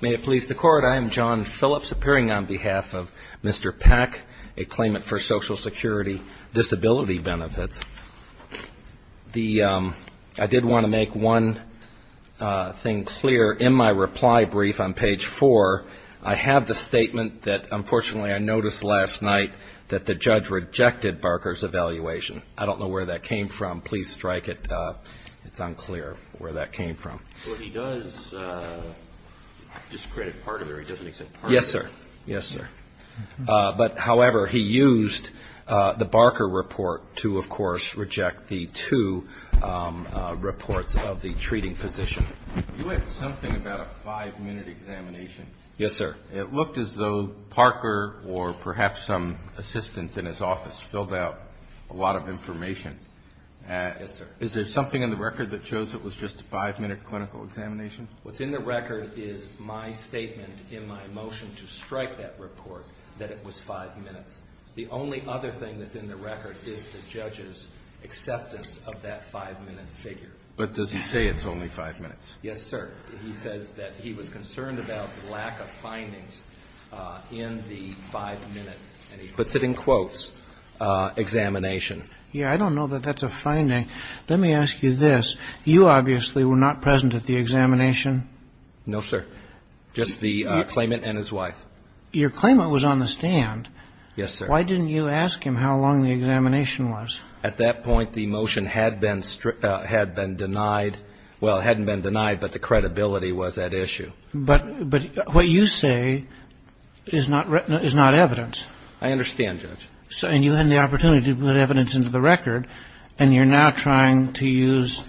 May it please the Court, I am John Phillips, appearing on behalf of Mr. Peck, a claimant for Social Security Disability Benefits. I did want to make one thing clear in my reply brief on page 4. I have the statement that unfortunately I noticed last night that the judge rejected Barker's evaluation. I don't know where that came from. Please strike it. It's unclear where that came from. But he does discredit Parker. He doesn't accept Parker. Yes, sir. Yes, sir. But, however, he used the Barker report to, of course, reject the two reports of the treating physician. You had something about a five-minute examination. Yes, sir. It looked as though Parker or perhaps some assistant in his office filled out a lot of information. Yes, sir. Is there something in the record that shows it was just a five-minute clinical examination? What's in the record is my statement in my motion to strike that report that it was five minutes. The only other thing that's in the record is the judge's acceptance of that five-minute figure. But does he say it's only five minutes? Yes, sir. He says that he was concerned about the lack of findings in the five-minute, and he puts it in quotes, examination. Yes, I don't know that that's a finding. Let me ask you this. You obviously were not present at the examination. No, sir. Just the claimant and his wife. Your claimant was on the stand. Yes, sir. Why didn't you ask him how long the examination was? At that point, the motion had been denied. Well, it hadn't been denied, but the credibility was at issue. But what you say is not evidence. I understand, Judge. And you had the opportunity to put evidence into the record, and you're now trying to use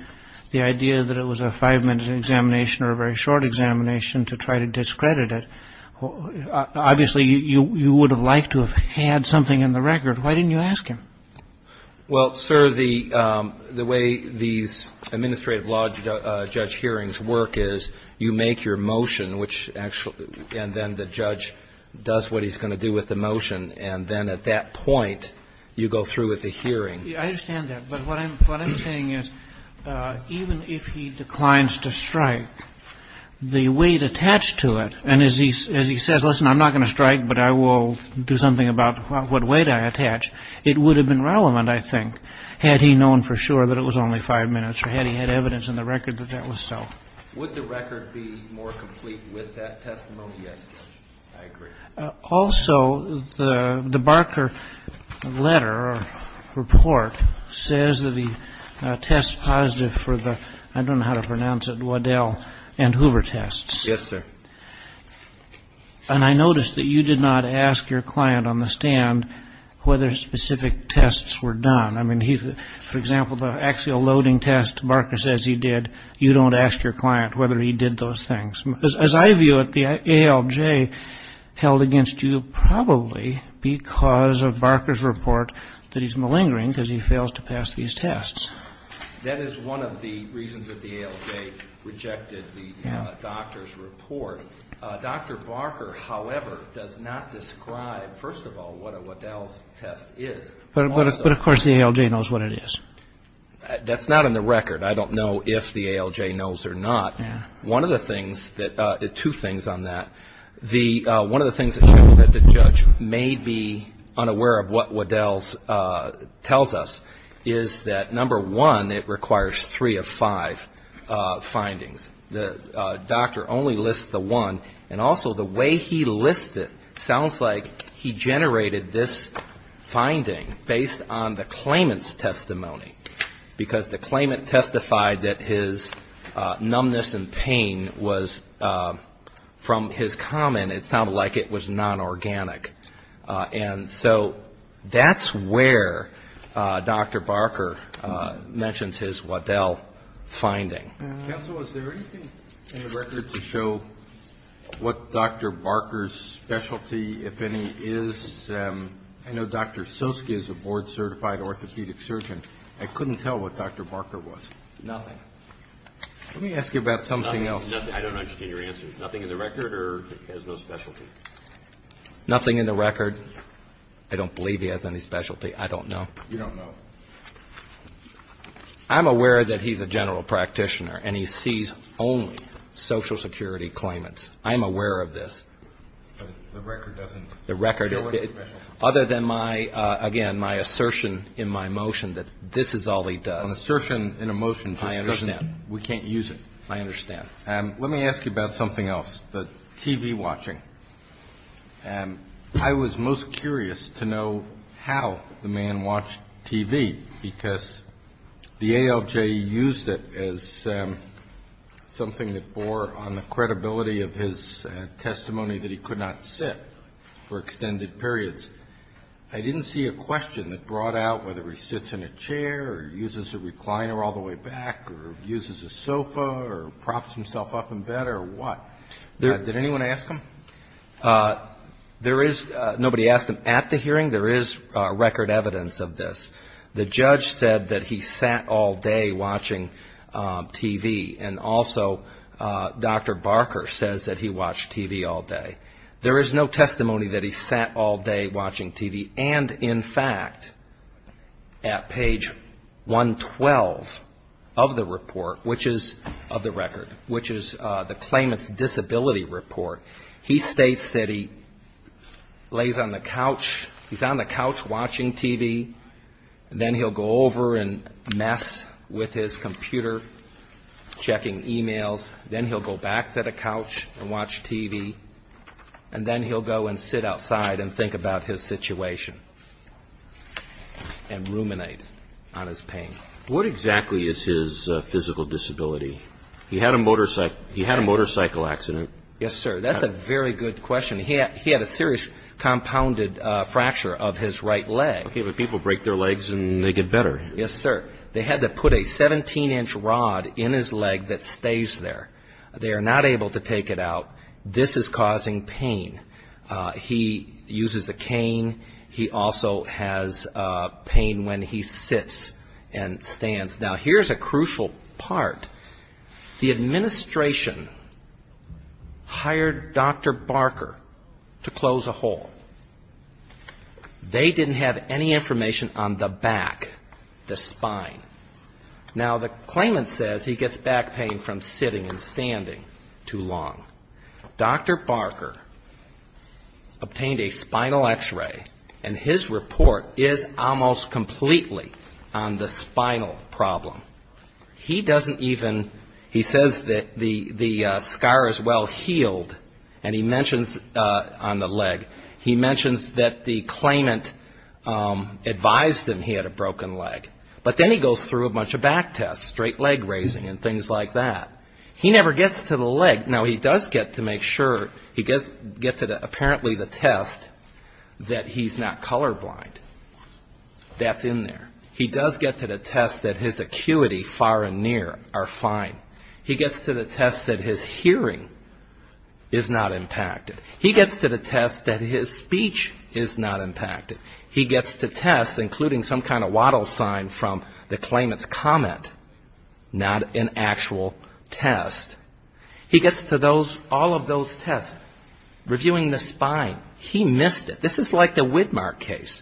the idea that it was a five-minute examination or a very short examination to try to discredit it. Obviously, you would have liked to have had something in the record. Why didn't you ask him? Well, sir, the way these administrative law judge hearings work is you make your motion, which actually – and then the judge does what he's going to do with the motion. And then at that point, you go through with the hearing. I understand that. But what I'm saying is even if he declines to strike, the weight attached to it – and as he says, listen, I'm not going to strike, but I will do something about what weight I attach. It would have been relevant, I think, had he known for sure that it was only five minutes or had he had evidence in the record that that was so. Would the record be more complete with that testimony? Yes, Judge. I agree. Also, the Barker letter or report says that he tests positive for the – I don't know how to pronounce it – Waddell and Hoover tests. Yes, sir. And I noticed that you did not ask your client on the stand whether specific tests were done. I mean, for example, the axial loading test Barker says he did, you don't ask your client whether he did those things. As I view it, the ALJ held against you probably because of Barker's report that he's malingering because he fails to pass these tests. That is one of the reasons that the ALJ rejected the doctor's report. Dr. Barker, however, does not describe, first of all, what a Waddell's test is. But, of course, the ALJ knows what it is. That's not in the record. I don't know if the ALJ knows or not. One of the things that – two things on that. One of the things that the judge may be unaware of what Waddell's tells us is that, number one, it requires three of five findings. The doctor only lists the one. And also, the way he lists it sounds like he generated this finding based on the claimant's testimony because the claimant testified that his numbness and pain was, from his comment, it sounded like it was non-organic. And so that's where Dr. Barker mentions his Waddell finding. Counsel, is there anything in the record to show what Dr. Barker's specialty, if any, is? I know Dr. Soski is a board-certified orthopedic surgeon. I couldn't tell what Dr. Barker was. Nothing. Let me ask you about something else. Nothing. I don't understand your answer. Nothing in the record or has no specialty? Nothing in the record. I don't believe he has any specialty. I don't know. You don't know. I'm aware that he's a general practitioner and he sees only Social Security claimants. I'm aware of this. But the record doesn't show it? The record, other than my, again, my assertion in my motion that this is all he does. An assertion in a motion just doesn't we can't use it. I understand. Let me ask you about something else, the TV watching. I was most curious to know how the man watched TV because the ALJ used it as something that bore on the credibility of his testimony that he could not sit for extended periods. I didn't see a question that brought out whether he sits in a chair or uses a recliner all the way back or uses a sofa or props himself up in bed or what. Did anyone ask him? There is, nobody asked him at the hearing. There is record evidence of this. The judge said that he sat all day watching TV. And also Dr. Barker says that he watched TV all day. There is no testimony that he sat all day watching TV. And, in fact, at page 112 of the report, which is of the record, which is the claimant's disability report, he states that he lays on the couch, he's on the couch watching TV. Then he'll go over and mess with his computer, checking e-mails. Then he'll go back to the couch and watch TV. And then he'll go and sit outside and think about his situation and ruminate on his pain. What exactly is his physical disability? He had a motorcycle accident. Yes, sir. That's a very good question. He had a serious compounded fracture of his right leg. Okay, but people break their legs and they get better. Yes, sir. They had to put a 17-inch rod in his leg that stays there. They are not able to take it out. This is causing pain. He uses a cane. He also has pain when he sits and stands. Now, here's a crucial part. The administration hired Dr. Barker to close a hole. They didn't have any information on the back, the spine. Now, the claimant says he gets back pain from sitting and standing too long. Dr. Barker obtained a spinal X-ray, and his report is almost completely on the spinal problem. He doesn't even, he says that the scar is well healed, and he mentions on the leg, he mentions that the claimant advised him he had a broken leg. But then he goes through a bunch of back tests, straight leg raising and things like that. He never gets to the leg. Now, he does get to make sure, he gets to apparently the test that he's not colorblind. That's in there. He does get to the test that his acuity far and near are fine. He gets to the test that his hearing is not impacted. He gets to the test that his speech is not impacted. He gets to tests, including some kind of wattle sign from the claimant's comment, not an actual test. He gets to those, all of those tests, reviewing the spine. He missed it. This is like the Widmark case,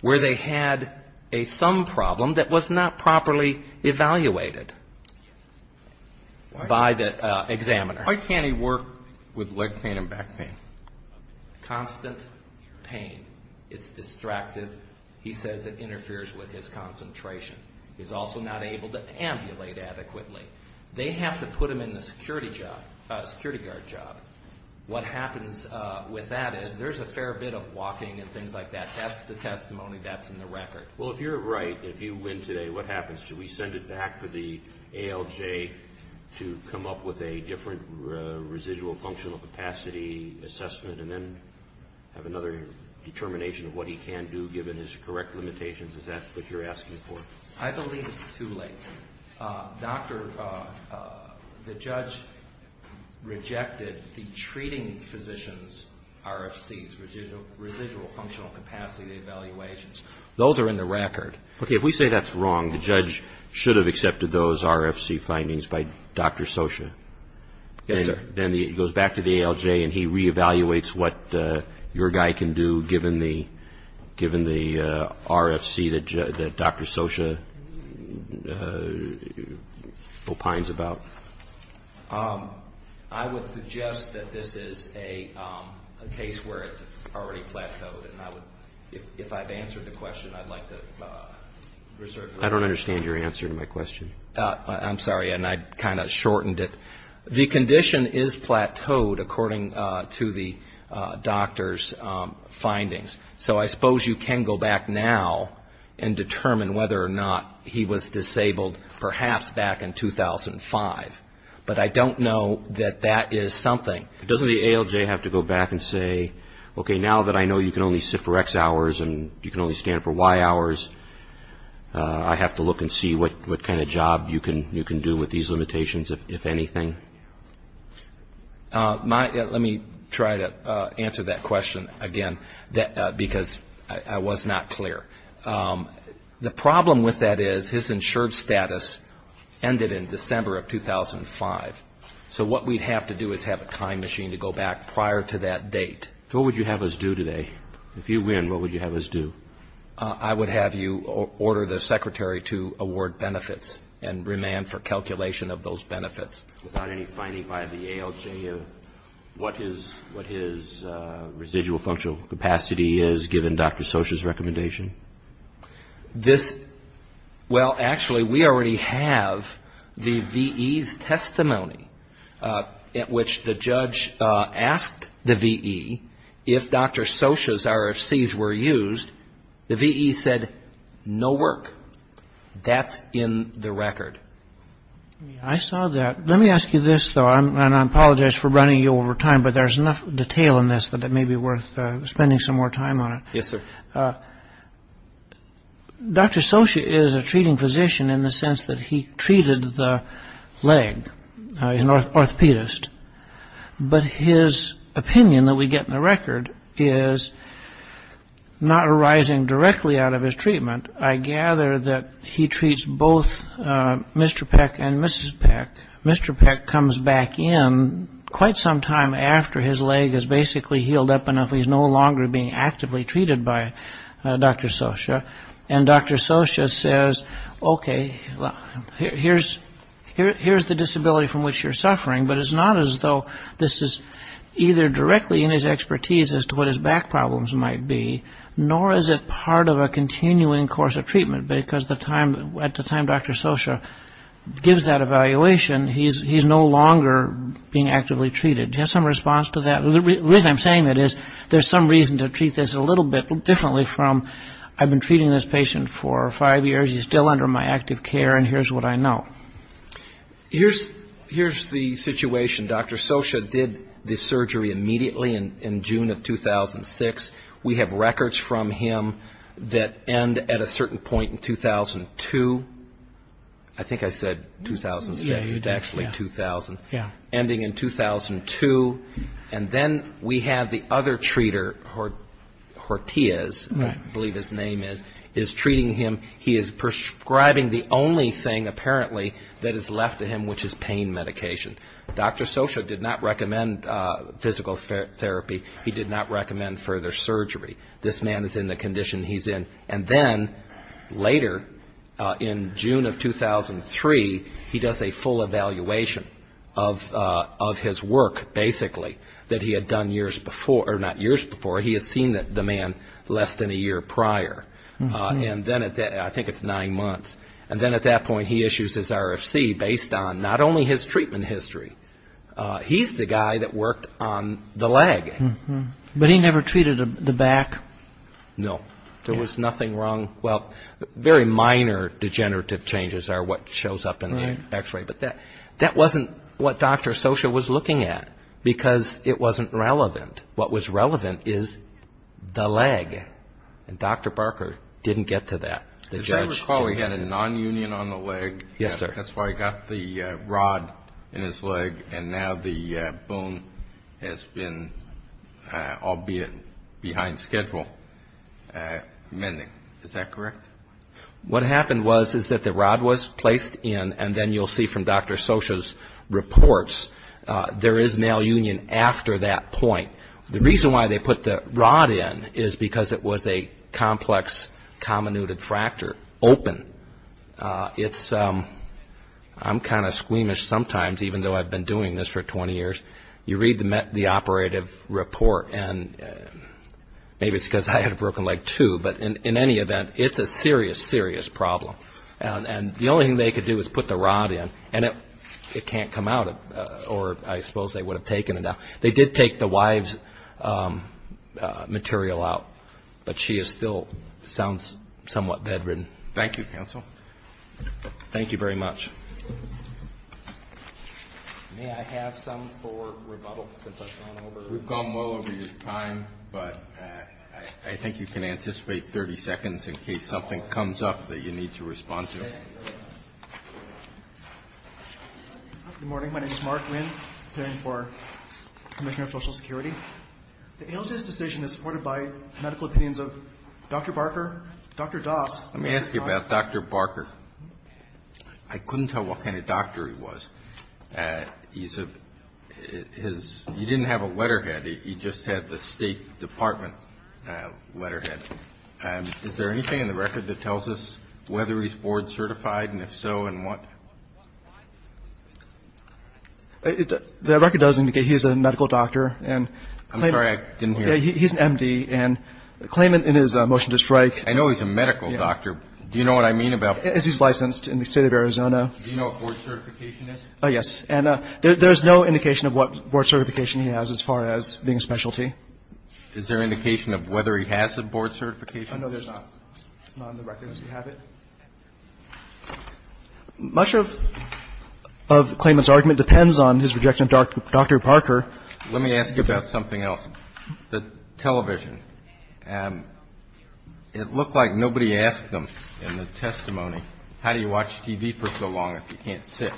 where they had a thumb problem that was not properly evaluated by the examiner. Why can't he work with leg pain and back pain? Constant pain. It's distracted. He says it interferes with his concentration. He's also not able to ambulate adequately. They have to put him in the security job, security guard job. What happens with that is there's a fair bit of walking and things like that. That's the testimony that's in the record. Well, if you're right, if you win today, what happens? Do we send it back to the ALJ to come up with a different residual functional capacity assessment and then have another determination of what he can do given his correct limitations? Is that what you're asking for? I believe it's too late. Doctor, the judge rejected the treating physician's RFCs, residual functional capacity evaluations. Those are in the record. Okay, if we say that's wrong, the judge should have accepted those RFC findings by Dr. Scioscia. Yes, sir. Then he goes back to the ALJ and he reevaluates what your guy can do given the RFC that Dr. Scioscia opines about. I would suggest that this is a case where it's already plateaued. If I've answered the question, I'd like to reserve it. I don't understand your answer to my question. I'm sorry, and I kind of shortened it. The condition is plateaued according to the doctor's findings. So I suppose you can go back now and determine whether or not he was disabled perhaps back in 2005. But I don't know that that is something. Doesn't the ALJ have to go back and say, okay, now that I know you can only sit for X hours and you can only stand for Y hours, I have to look and see what kind of job you can do with these limitations, if anything? Let me try to answer that question again because I was not clear. The problem with that is his insured status ended in December of 2005. So what we'd have to do is have a time machine to go back prior to that date. So what would you have us do today? If you win, what would you have us do? I would have you order the secretary to award benefits and remand for calculation of those benefits. Without any finding by the ALJ of what his residual functional capacity is, given Dr. Socha's recommendation? Well, actually, we already have the VE's testimony at which the judge asked the VE if Dr. Socha's RFCs were used. The VE said no work. That's in the record. I saw that. Let me ask you this, though, and I apologize for running you over time, but there's enough detail in this that it may be worth spending some more time on it. Yes, sir. Dr. Socha is a treating physician in the sense that he treated the leg. He's an orthopedist. But his opinion that we get in the record is not arising directly out of his treatment. I gather that he treats both Mr. Peck and Mrs. Peck. Mr. Peck comes back in quite some time after his leg is basically healed up enough. He's no longer being actively treated by Dr. Socha. And Dr. Socha says, okay, here's the disability from which you're suffering, but it's not as though this is either directly in his expertise as to what his back problems might be, nor is it part of a continuing course of treatment, because at the time Dr. Socha gives that evaluation, he's no longer being actively treated. Do you have some response to that? The reason I'm saying that is there's some reason to treat this a little bit differently from, I've been treating this patient for five years, he's still under my active care, and here's what I know. Here's the situation. Dr. Socha did the surgery immediately in June of 2006. We have records from him that end at a certain point in 2002. I think I said 2006. It's actually 2000. Ending in 2002. And then we have the other treater, Hortiz, I believe his name is, is treating him. He is prescribing the only thing apparently that is left to him, which is pain medication. Dr. Socha did not recommend physical therapy. He did not recommend further surgery. This man is in the condition he's in. And then later, in June of 2003, he does a full evaluation of his work, basically, that he had done years before, or not years before, he has seen the man less than a year prior. And then at that, I think it's nine months, and then at that point he issues his RFC based on not only his treatment history, he's the guy that worked on the leg. But he never treated the back? No. There was nothing wrong, well, very minor degenerative changes are what shows up in the X-ray, but that wasn't what Dr. Socha was looking at, because it wasn't relevant. What was relevant is the leg. And Dr. Barker didn't get to that. As I recall, he had a nonunion on the leg. Yes, sir. That's why he got the rod in his leg, and now the bone has been, albeit behind schedule, mending. Is that correct? What happened was is that the rod was placed in, and then you'll see from Dr. Socha's reports, there is malunion after that point. The reason why they put the rod in is because it was a complex comminuted fracture open. I'm kind of squeamish sometimes, even though I've been doing this for 20 years. You read the operative report, and maybe it's because I had a broken leg too, but in any event, it's a serious, serious problem. And the only thing they could do was put the rod in, and it can't come out, or I suppose they would have taken it out. They did take the wife's material out, but she still sounds somewhat bedridden. Thank you, counsel. Thank you very much. May I have some for rebuttal since I've gone over? We've gone well over your time, but I think you can anticipate 30 seconds in case something comes up that you need to respond to. Okay. Good morning. My name is Mark Winn, appearing for the Commission of Social Security. The ALJ's decision is supported by medical opinions of Dr. Barker, Dr. Doss. Let me ask you about Dr. Barker. I couldn't tell what kind of doctor he was. He didn't have a letterhead. He just had the State Department letterhead. Is there anything in the record that tells us whether he's board certified, and if so, in what? The record does indicate he's a medical doctor. I'm sorry. I didn't hear. He's an M.D., and the claimant in his motion to strike. I know he's a medical doctor. Do you know what I mean about? He's licensed in the State of Arizona. Do you know what board certification is? And there's no indication of what board certification he has as far as being a specialty. Is there indication of whether he has the board certification? I know there's not. It's not in the record. Does he have it? Much of the claimant's argument depends on his rejection of Dr. Barker. Let me ask you about something else. The television. It looked like nobody asked him in the testimony, how do you watch TV for so long if you can't sit?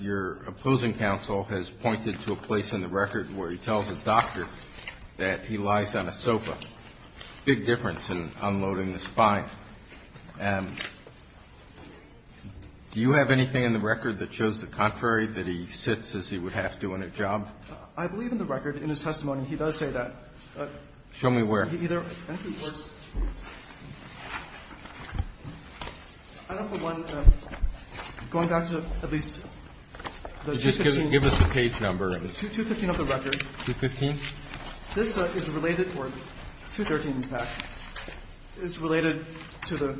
Your opposing counsel has pointed to a place in the record where he tells his doctor that he lies on a sofa. Big difference in unloading the spine. Do you have anything in the record that shows the contrary, that he sits as he would have to in a job? I believe in the record, in his testimony, he does say that. Show me where. He either enters first. I know for one, going back to at least the 215. Just give us the page number. 215 of the record. This is related for 213, in fact. It's related to the,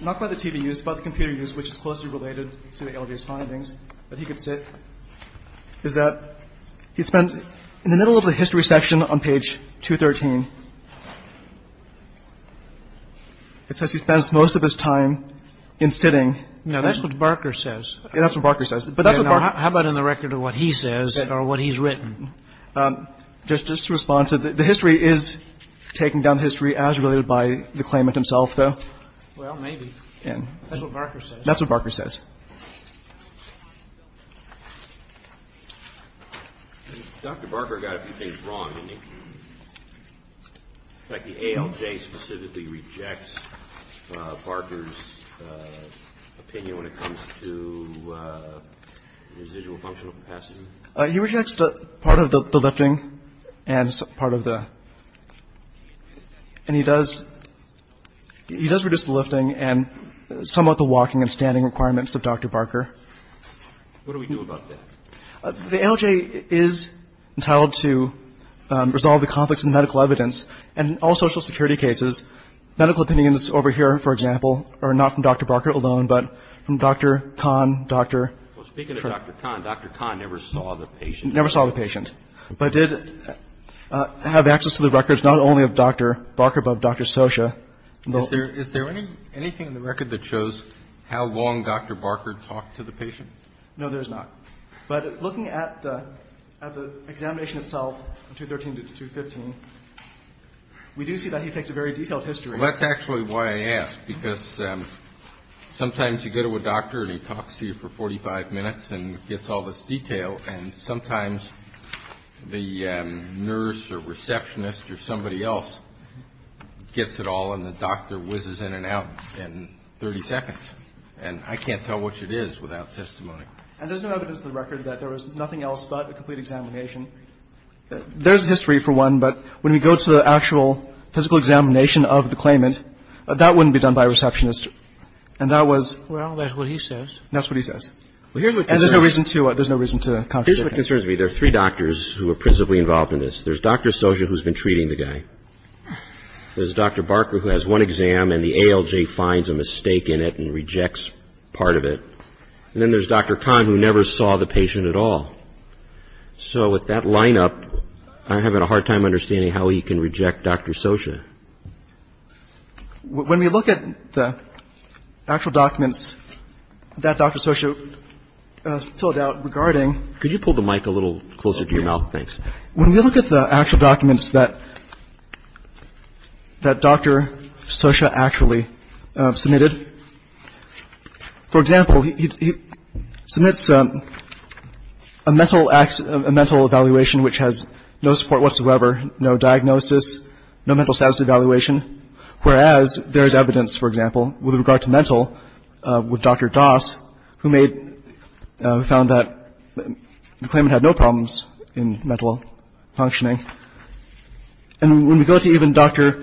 not by the TV use, by the computer use, which is closely related to the ALJ's findings. But he could sit. The only difference is that he spends, in the middle of the history section on page 213, it says he spends most of his time in sitting. No, that's what Barker says. That's what Barker says. How about in the record of what he says or what he's written? Just to respond to that, the history is taking down history as related by the claimant himself, though. Well, maybe. That's what Barker says. That's what Barker says. Dr. Barker got a few things wrong. In fact, the ALJ specifically rejects Barker's opinion when it comes to residual functional capacity. He rejects part of the lifting and part of the, and he does, he does reduce the lifting and somewhat the walking and standing requirements of Dr. Barker. What do we do about that? The ALJ is entitled to resolve the conflicts in medical evidence and all social security cases. Medical opinions over here, for example, are not from Dr. Barker alone, but from Dr. Kahn, Dr. Well, speaking of Dr. Kahn, Dr. Kahn never saw the patient. Never saw the patient. But did have access to the records not only of Dr. Barker, but of Dr. Scioscia. Is there anything in the record that shows how long Dr. Barker talked to the patient? No, there's not. But looking at the examination itself, 213 to 215, we do see that he takes a very detailed history. Well, that's actually why I asked, because sometimes you go to a doctor and he talks to you for 45 minutes and gets all this detail, and sometimes the nurse or receptionist or somebody else gets it all and the doctor whizzes in and out in 30 seconds. And I can't tell which it is without testimony. And there's no evidence in the record that there was nothing else but a complete examination. There's history, for one, but when we go to the actual physical examination of the claimant, that wouldn't be done by a receptionist. And that was — Well, that's what he says. That's what he says. And there's no reason to contradict him. Here's what concerns me. There are three doctors who are principally involved in this. There's Dr. Scioscia, who's been treating the guy. There's Dr. Barker, who has one exam, and the ALJ finds a mistake in it and rejects part of it. And then there's Dr. Kahn, who never saw the patient at all. So with that lineup, I'm having a hard time understanding how he can reject Dr. Scioscia. When we look at the actual documents that Dr. Scioscia filled out regarding — Could you pull the mic a little closer to your mouth? Thanks. When we look at the actual documents that Dr. Scioscia actually submitted, for example, he submits a mental evaluation which has no support whatsoever, no diagnosis, no mental status evaluation, whereas there is evidence, for example, with regard to mental with Dr. Das, who found that the claimant had no problems in mental functioning. And when we go to even Dr.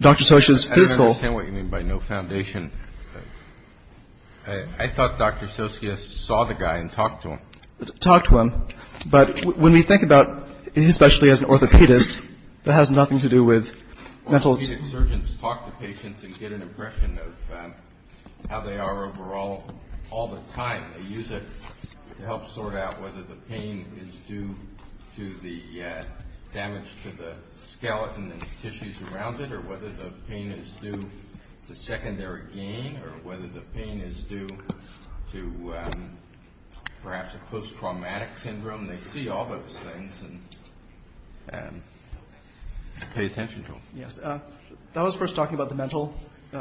Scioscia's physical — I don't understand what you mean by no foundation. I thought Dr. Scioscia saw the guy and talked to him. Talked to him. But when we think about, especially as an orthopedist, that has nothing to do with mental — They use it to help sort out whether the pain is due to the damage to the skeleton and tissues around it, or whether the pain is due to secondary gain, or whether the pain is due to perhaps a post-traumatic syndrome. They see all those things and pay attention to them. Yes. That was first talking about the mental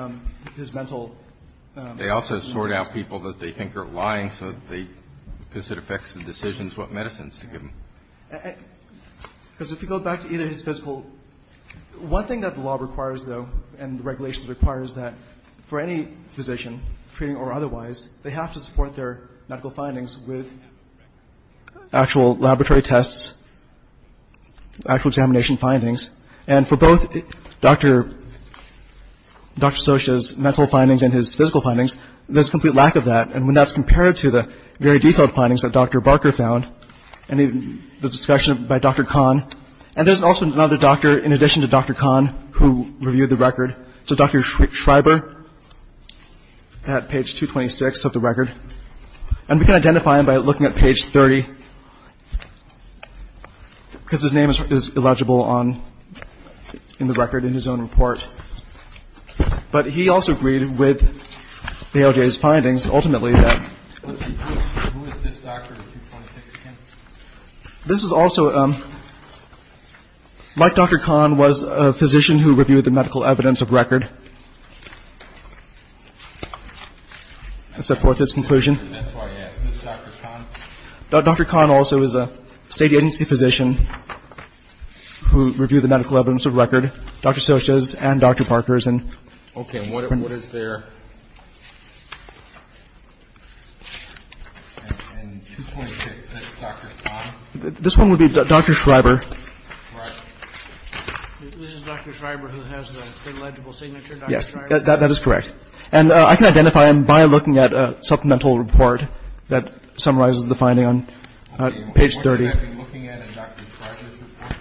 — his mental — They also sort out people that they think are lying so that they — because it affects the decisions what medicines to give them. Because if you go back to either his physical — one thing that the law requires, though, and the regulations require is that for any physician, treating or otherwise, they have to support their medical findings with actual laboratory tests, actual examination findings. And for both Dr. Scioscia's mental findings and his physical findings, there's complete lack of that. And when that's compared to the very detailed findings that Dr. Barker found and the discussion by Dr. Kahn. And there's also another doctor, in addition to Dr. Kahn, who reviewed the record. So Dr. Schreiber at page 226 of the record. And we can identify him by looking at page 30. Because his name is illegible on — in the record in his own report. But he also agreed with AOJ's findings, ultimately, that — Who is this doctor in 226? This is also — like Dr. Kahn was a physician who reviewed the medical evidence of record. That's the fourthest conclusion. That's why I asked. Is this Dr. Kahn? Dr. Kahn also is a state agency physician who reviewed the medical evidence of record. Dr. Scioscia's and Dr. Barker's. Okay. And what is their — in 226, is this Dr. Kahn? This one would be Dr. Schreiber. Right. This is Dr. Schreiber who has the illegible signature, Dr. Schreiber? Yes. That is correct. And I can identify him by looking at a supplemental report that summarizes the finding on page 30. Okay. And what should I be looking at in Dr. Schreiber's report?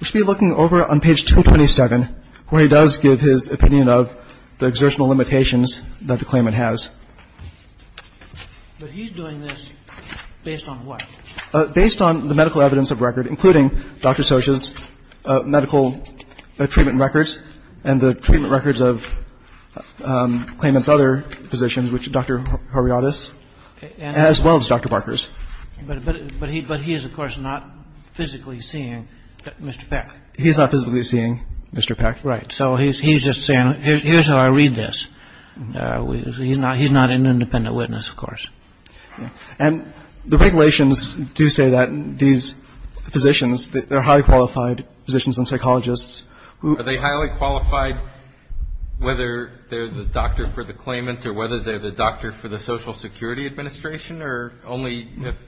You should be looking over on page 227, where he does give his opinion of the exertional limitations that the claimant has. But he's doing this based on what? Based on the medical evidence of record, including Dr. Scioscia's medical treatment records and the treatment records of the claimant's other physicians, Dr. Horiadis, as well as Dr. Barker's. But he is, of course, not physically seeing Mr. Peck. He's not physically seeing Mr. Peck. Right. So he's just saying, here's how I read this. He's not an independent witness, of course. And the regulations do say that these physicians, they're highly qualified physicians and psychologists who Are they highly qualified whether they're the doctor for the claimant or whether they're the doctor for the Social Security Administration? Or only if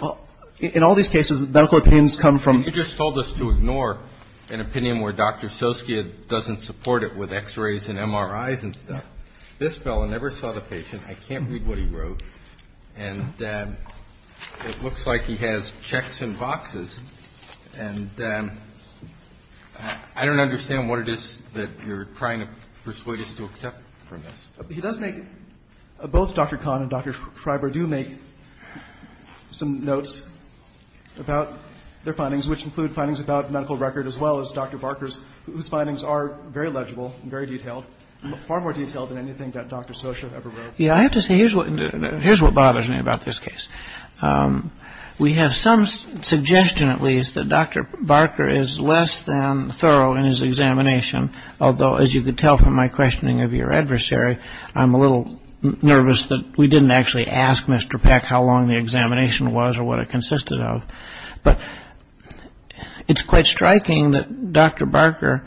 Well, in all these cases, medical opinions come from You just told us to ignore an opinion where Dr. Scioscia doesn't support it with x-rays and MRIs and stuff. This fellow never saw the patient. I can't read what he wrote. And it looks like he has checks in boxes. And I don't understand what it is that you're trying to persuade us to accept from this. He does make, both Dr. Kahn and Dr. Freiberg do make some notes about their findings, which include findings about medical record as well as Dr. Barker's, whose findings are very legible and very detailed, far more detailed than anything that Dr. Scioscia ever wrote. Yeah, I have to say, here's what bothers me about this case. We have some suggestion, at least, that Dr. Barker is less than thorough in his examination. Although, as you could tell from my questioning of your adversary, I'm a little nervous that we didn't actually ask Mr. Peck how long the examination was or what it consisted of. But it's quite striking that Dr. Barker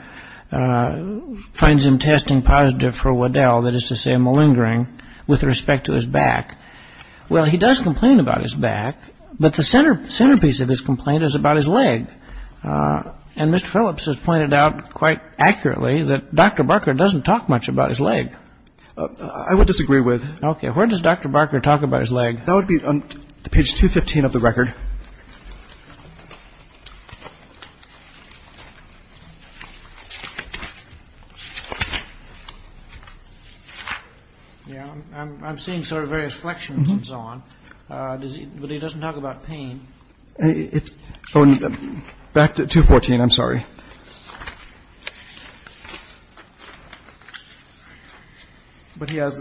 finds him testing positive for Waddell, that is to say malingering, with respect to his back. Well, he does complain about his back, but the centerpiece of his complaint is about his leg. And Mr. Phillips has pointed out quite accurately that Dr. Barker doesn't talk much about his leg. I would disagree with. Okay, where does Dr. Barker talk about his leg? That would be on page 215 of the record. Yeah, I'm seeing sort of various flexions and so on. But he doesn't talk about pain. Okay. But he has,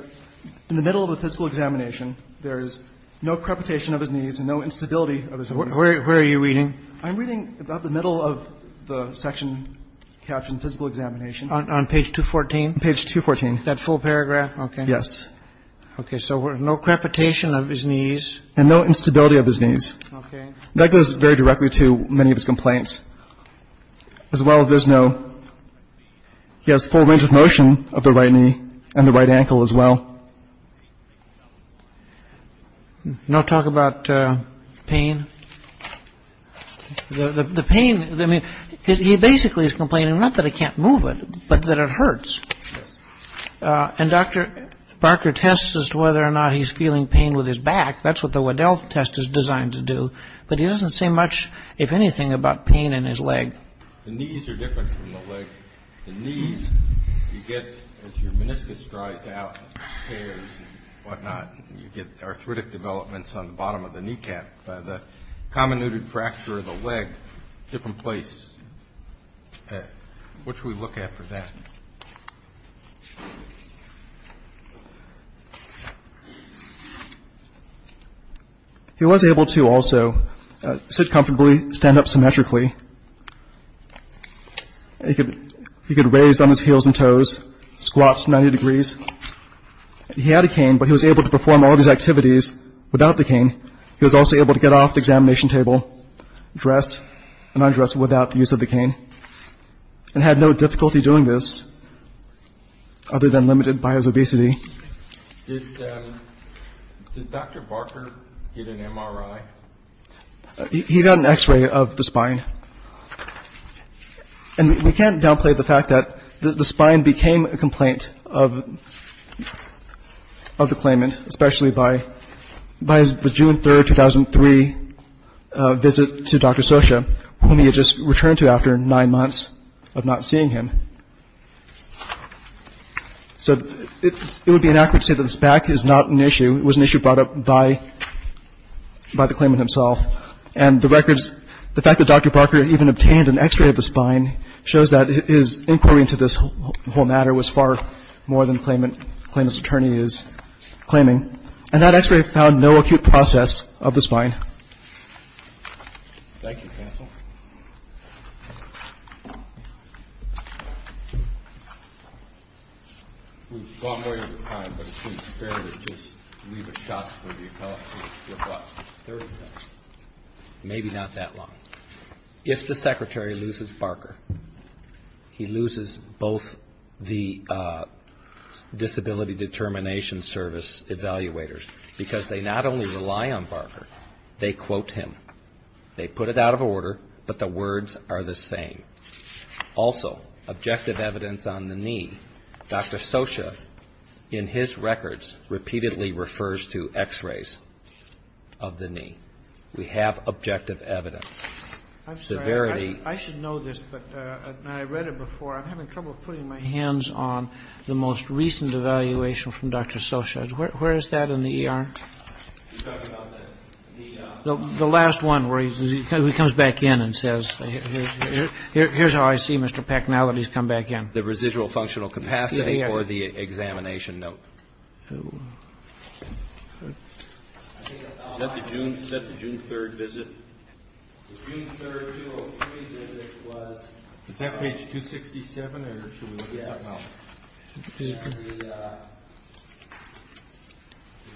in the middle of the physical examination, there is no crepitation of his knees and no instability of his knees. Where are you reading? I'm reading about the middle of the section captioned physical examination. On page 214? Page 214. That full paragraph? Okay. Yes. Okay. So no crepitation of his knees. And no instability of his knees. Okay. And that goes very directly to many of his complaints. As well, there's no ‑‑ he has full range of motion of the right knee and the right ankle as well. No talk about pain? The pain, I mean, he basically is complaining not that I can't move it, but that it hurts. Yes. And Dr. Barker tests as to whether or not he's feeling pain with his back. That's what the Waddell test is designed to do. But he doesn't say much, if anything, about pain in his leg. The knees are different from the leg. The knees you get as your meniscus dries out, tears and whatnot. You get arthritic developments on the bottom of the kneecap. The common knooted fracture of the leg, different place. What should we look at for that? He was able to also sit comfortably, stand up symmetrically. He could raise on his heels and toes, squat to 90 degrees. He had a cane, but he was able to perform all these activities without the cane. He was also able to get off the examination table, dress, and undress without the use of the cane, and had no difficulty doing this other than limited by his obesity. Did Dr. Barker get an MRI? He got an X-ray of the spine. And we can't downplay the fact that the spine became a complaint of the claimant, especially by the June 3, 2003 visit to Dr. Socha, whom he had just returned to after nine months of not seeing him. So it would be inaccurate to say that this back is not an issue. It was an issue brought up by the claimant himself. And the records, the fact that Dr. Barker even obtained an X-ray of the spine, shows that his inquiry into this whole matter was far more than the claimant's attorney is claiming. And that X-ray found no acute process of the spine. Thank you, counsel. We've gone way over time, but it seems fair to just leave a shot for the appellate court. What, 30 seconds? Maybe not that long. If the secretary loses Barker, he loses both the Disability Determination Service evaluators, because they not only rely on Barker, they quote him. They put it out of order, but the words are the same. Also, objective evidence on the knee. Dr. Socha, in his records, repeatedly refers to X-rays of the knee. We have objective evidence. I'm sorry. Severity. I should know this, but I read it before. I'm having trouble putting my hands on the most recent evaluation from Dr. Socha. Where is that in the ER? The last one where he comes back in and says, here's how I see Mr. Packnality's come back in. The residual functional capacity or the examination note. Is that the June 3rd visit? The June 3rd 203 visit was. Is that page 267 or should we look at something else? Yeah. The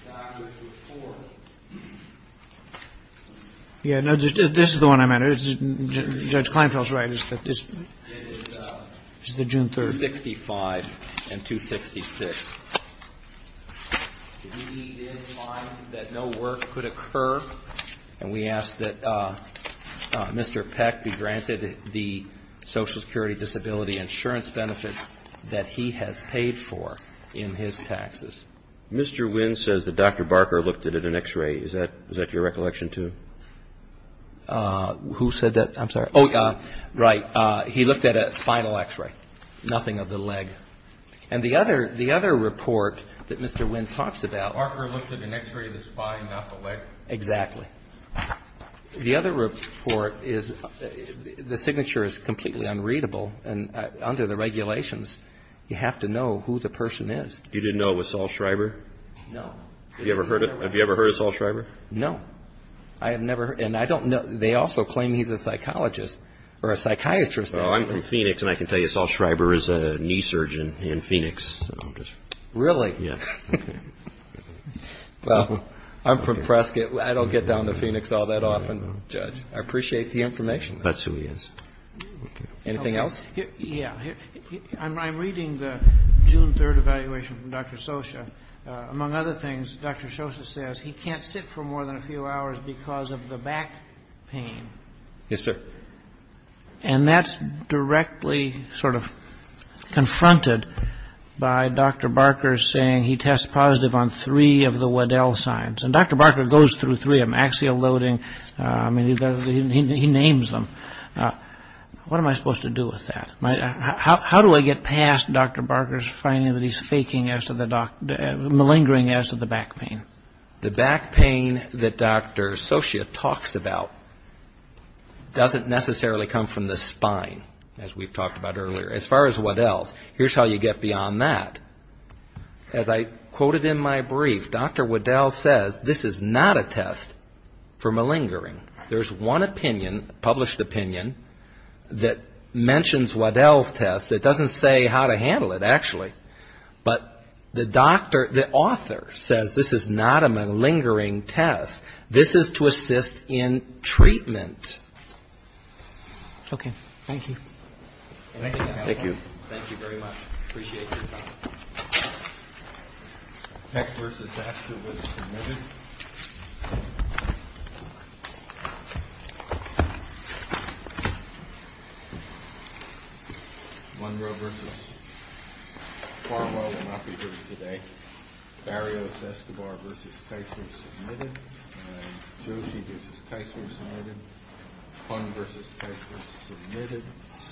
doctor's report. Yeah, no, this is the one I meant. Judge Kleinfeld is right. It is the June 3rd. 265 and 266. He did find that no work could occur, and we ask that Mr. Peck be granted the Social Security Disability Insurance benefits that he has paid for in his taxes. Mr. Wynn says that Dr. Barker looked at an X-ray. Is that your recollection too? Who said that? I'm sorry. Right. He looked at a spinal X-ray. Nothing of the leg. And the other report that Mr. Wynn talks about. Barker looked at an X-ray of the spine, not the leg. Exactly. The other report is the signature is completely unreadable, and under the regulations, you have to know who the person is. You didn't know it was Saul Schreiber? No. Have you ever heard of Saul Schreiber? No. I have never, and I don't know, they also claim he's a psychologist or a psychiatrist. I'm from Phoenix, and I can tell you Saul Schreiber is a knee surgeon in Phoenix. Really? Yes. I'm from Prescott. I don't get down to Phoenix all that often, Judge. I appreciate the information. That's who he is. Anything else? Yes. I'm reading the June 3rd evaluation from Dr. Scioscia. Among other things, Dr. Scioscia says he can't sit for more than a few hours because of the back pain. Yes, sir. And that's directly sort of confronted by Dr. Barker saying he tests positive on three of the Waddell signs, and Dr. Barker goes through three of them, axial loading. I mean, he names them. What am I supposed to do with that? How do I get past Dr. Barker's finding that he's malingering as to the back pain? The back pain that Dr. Scioscia talks about doesn't necessarily come from the spine, as we've talked about earlier. As far as Waddell's, here's how you get beyond that. As I quoted in my brief, Dr. Waddell says this is not a test for malingering. There's one opinion, published opinion, that mentions Waddell's test. It doesn't say how to handle it, actually. But the doctor, the author says this is not a malingering test. This is to assist in treatment. Okay. Thank you. Thank you. Thank you very much. Appreciate your time. Peck v. Astor was submitted. Monroe v. Farwell will not be heard today. Barrios-Escobar v. Keisler was submitted. Joshi v. Keisler was submitted. Hung v. Keisler was submitted.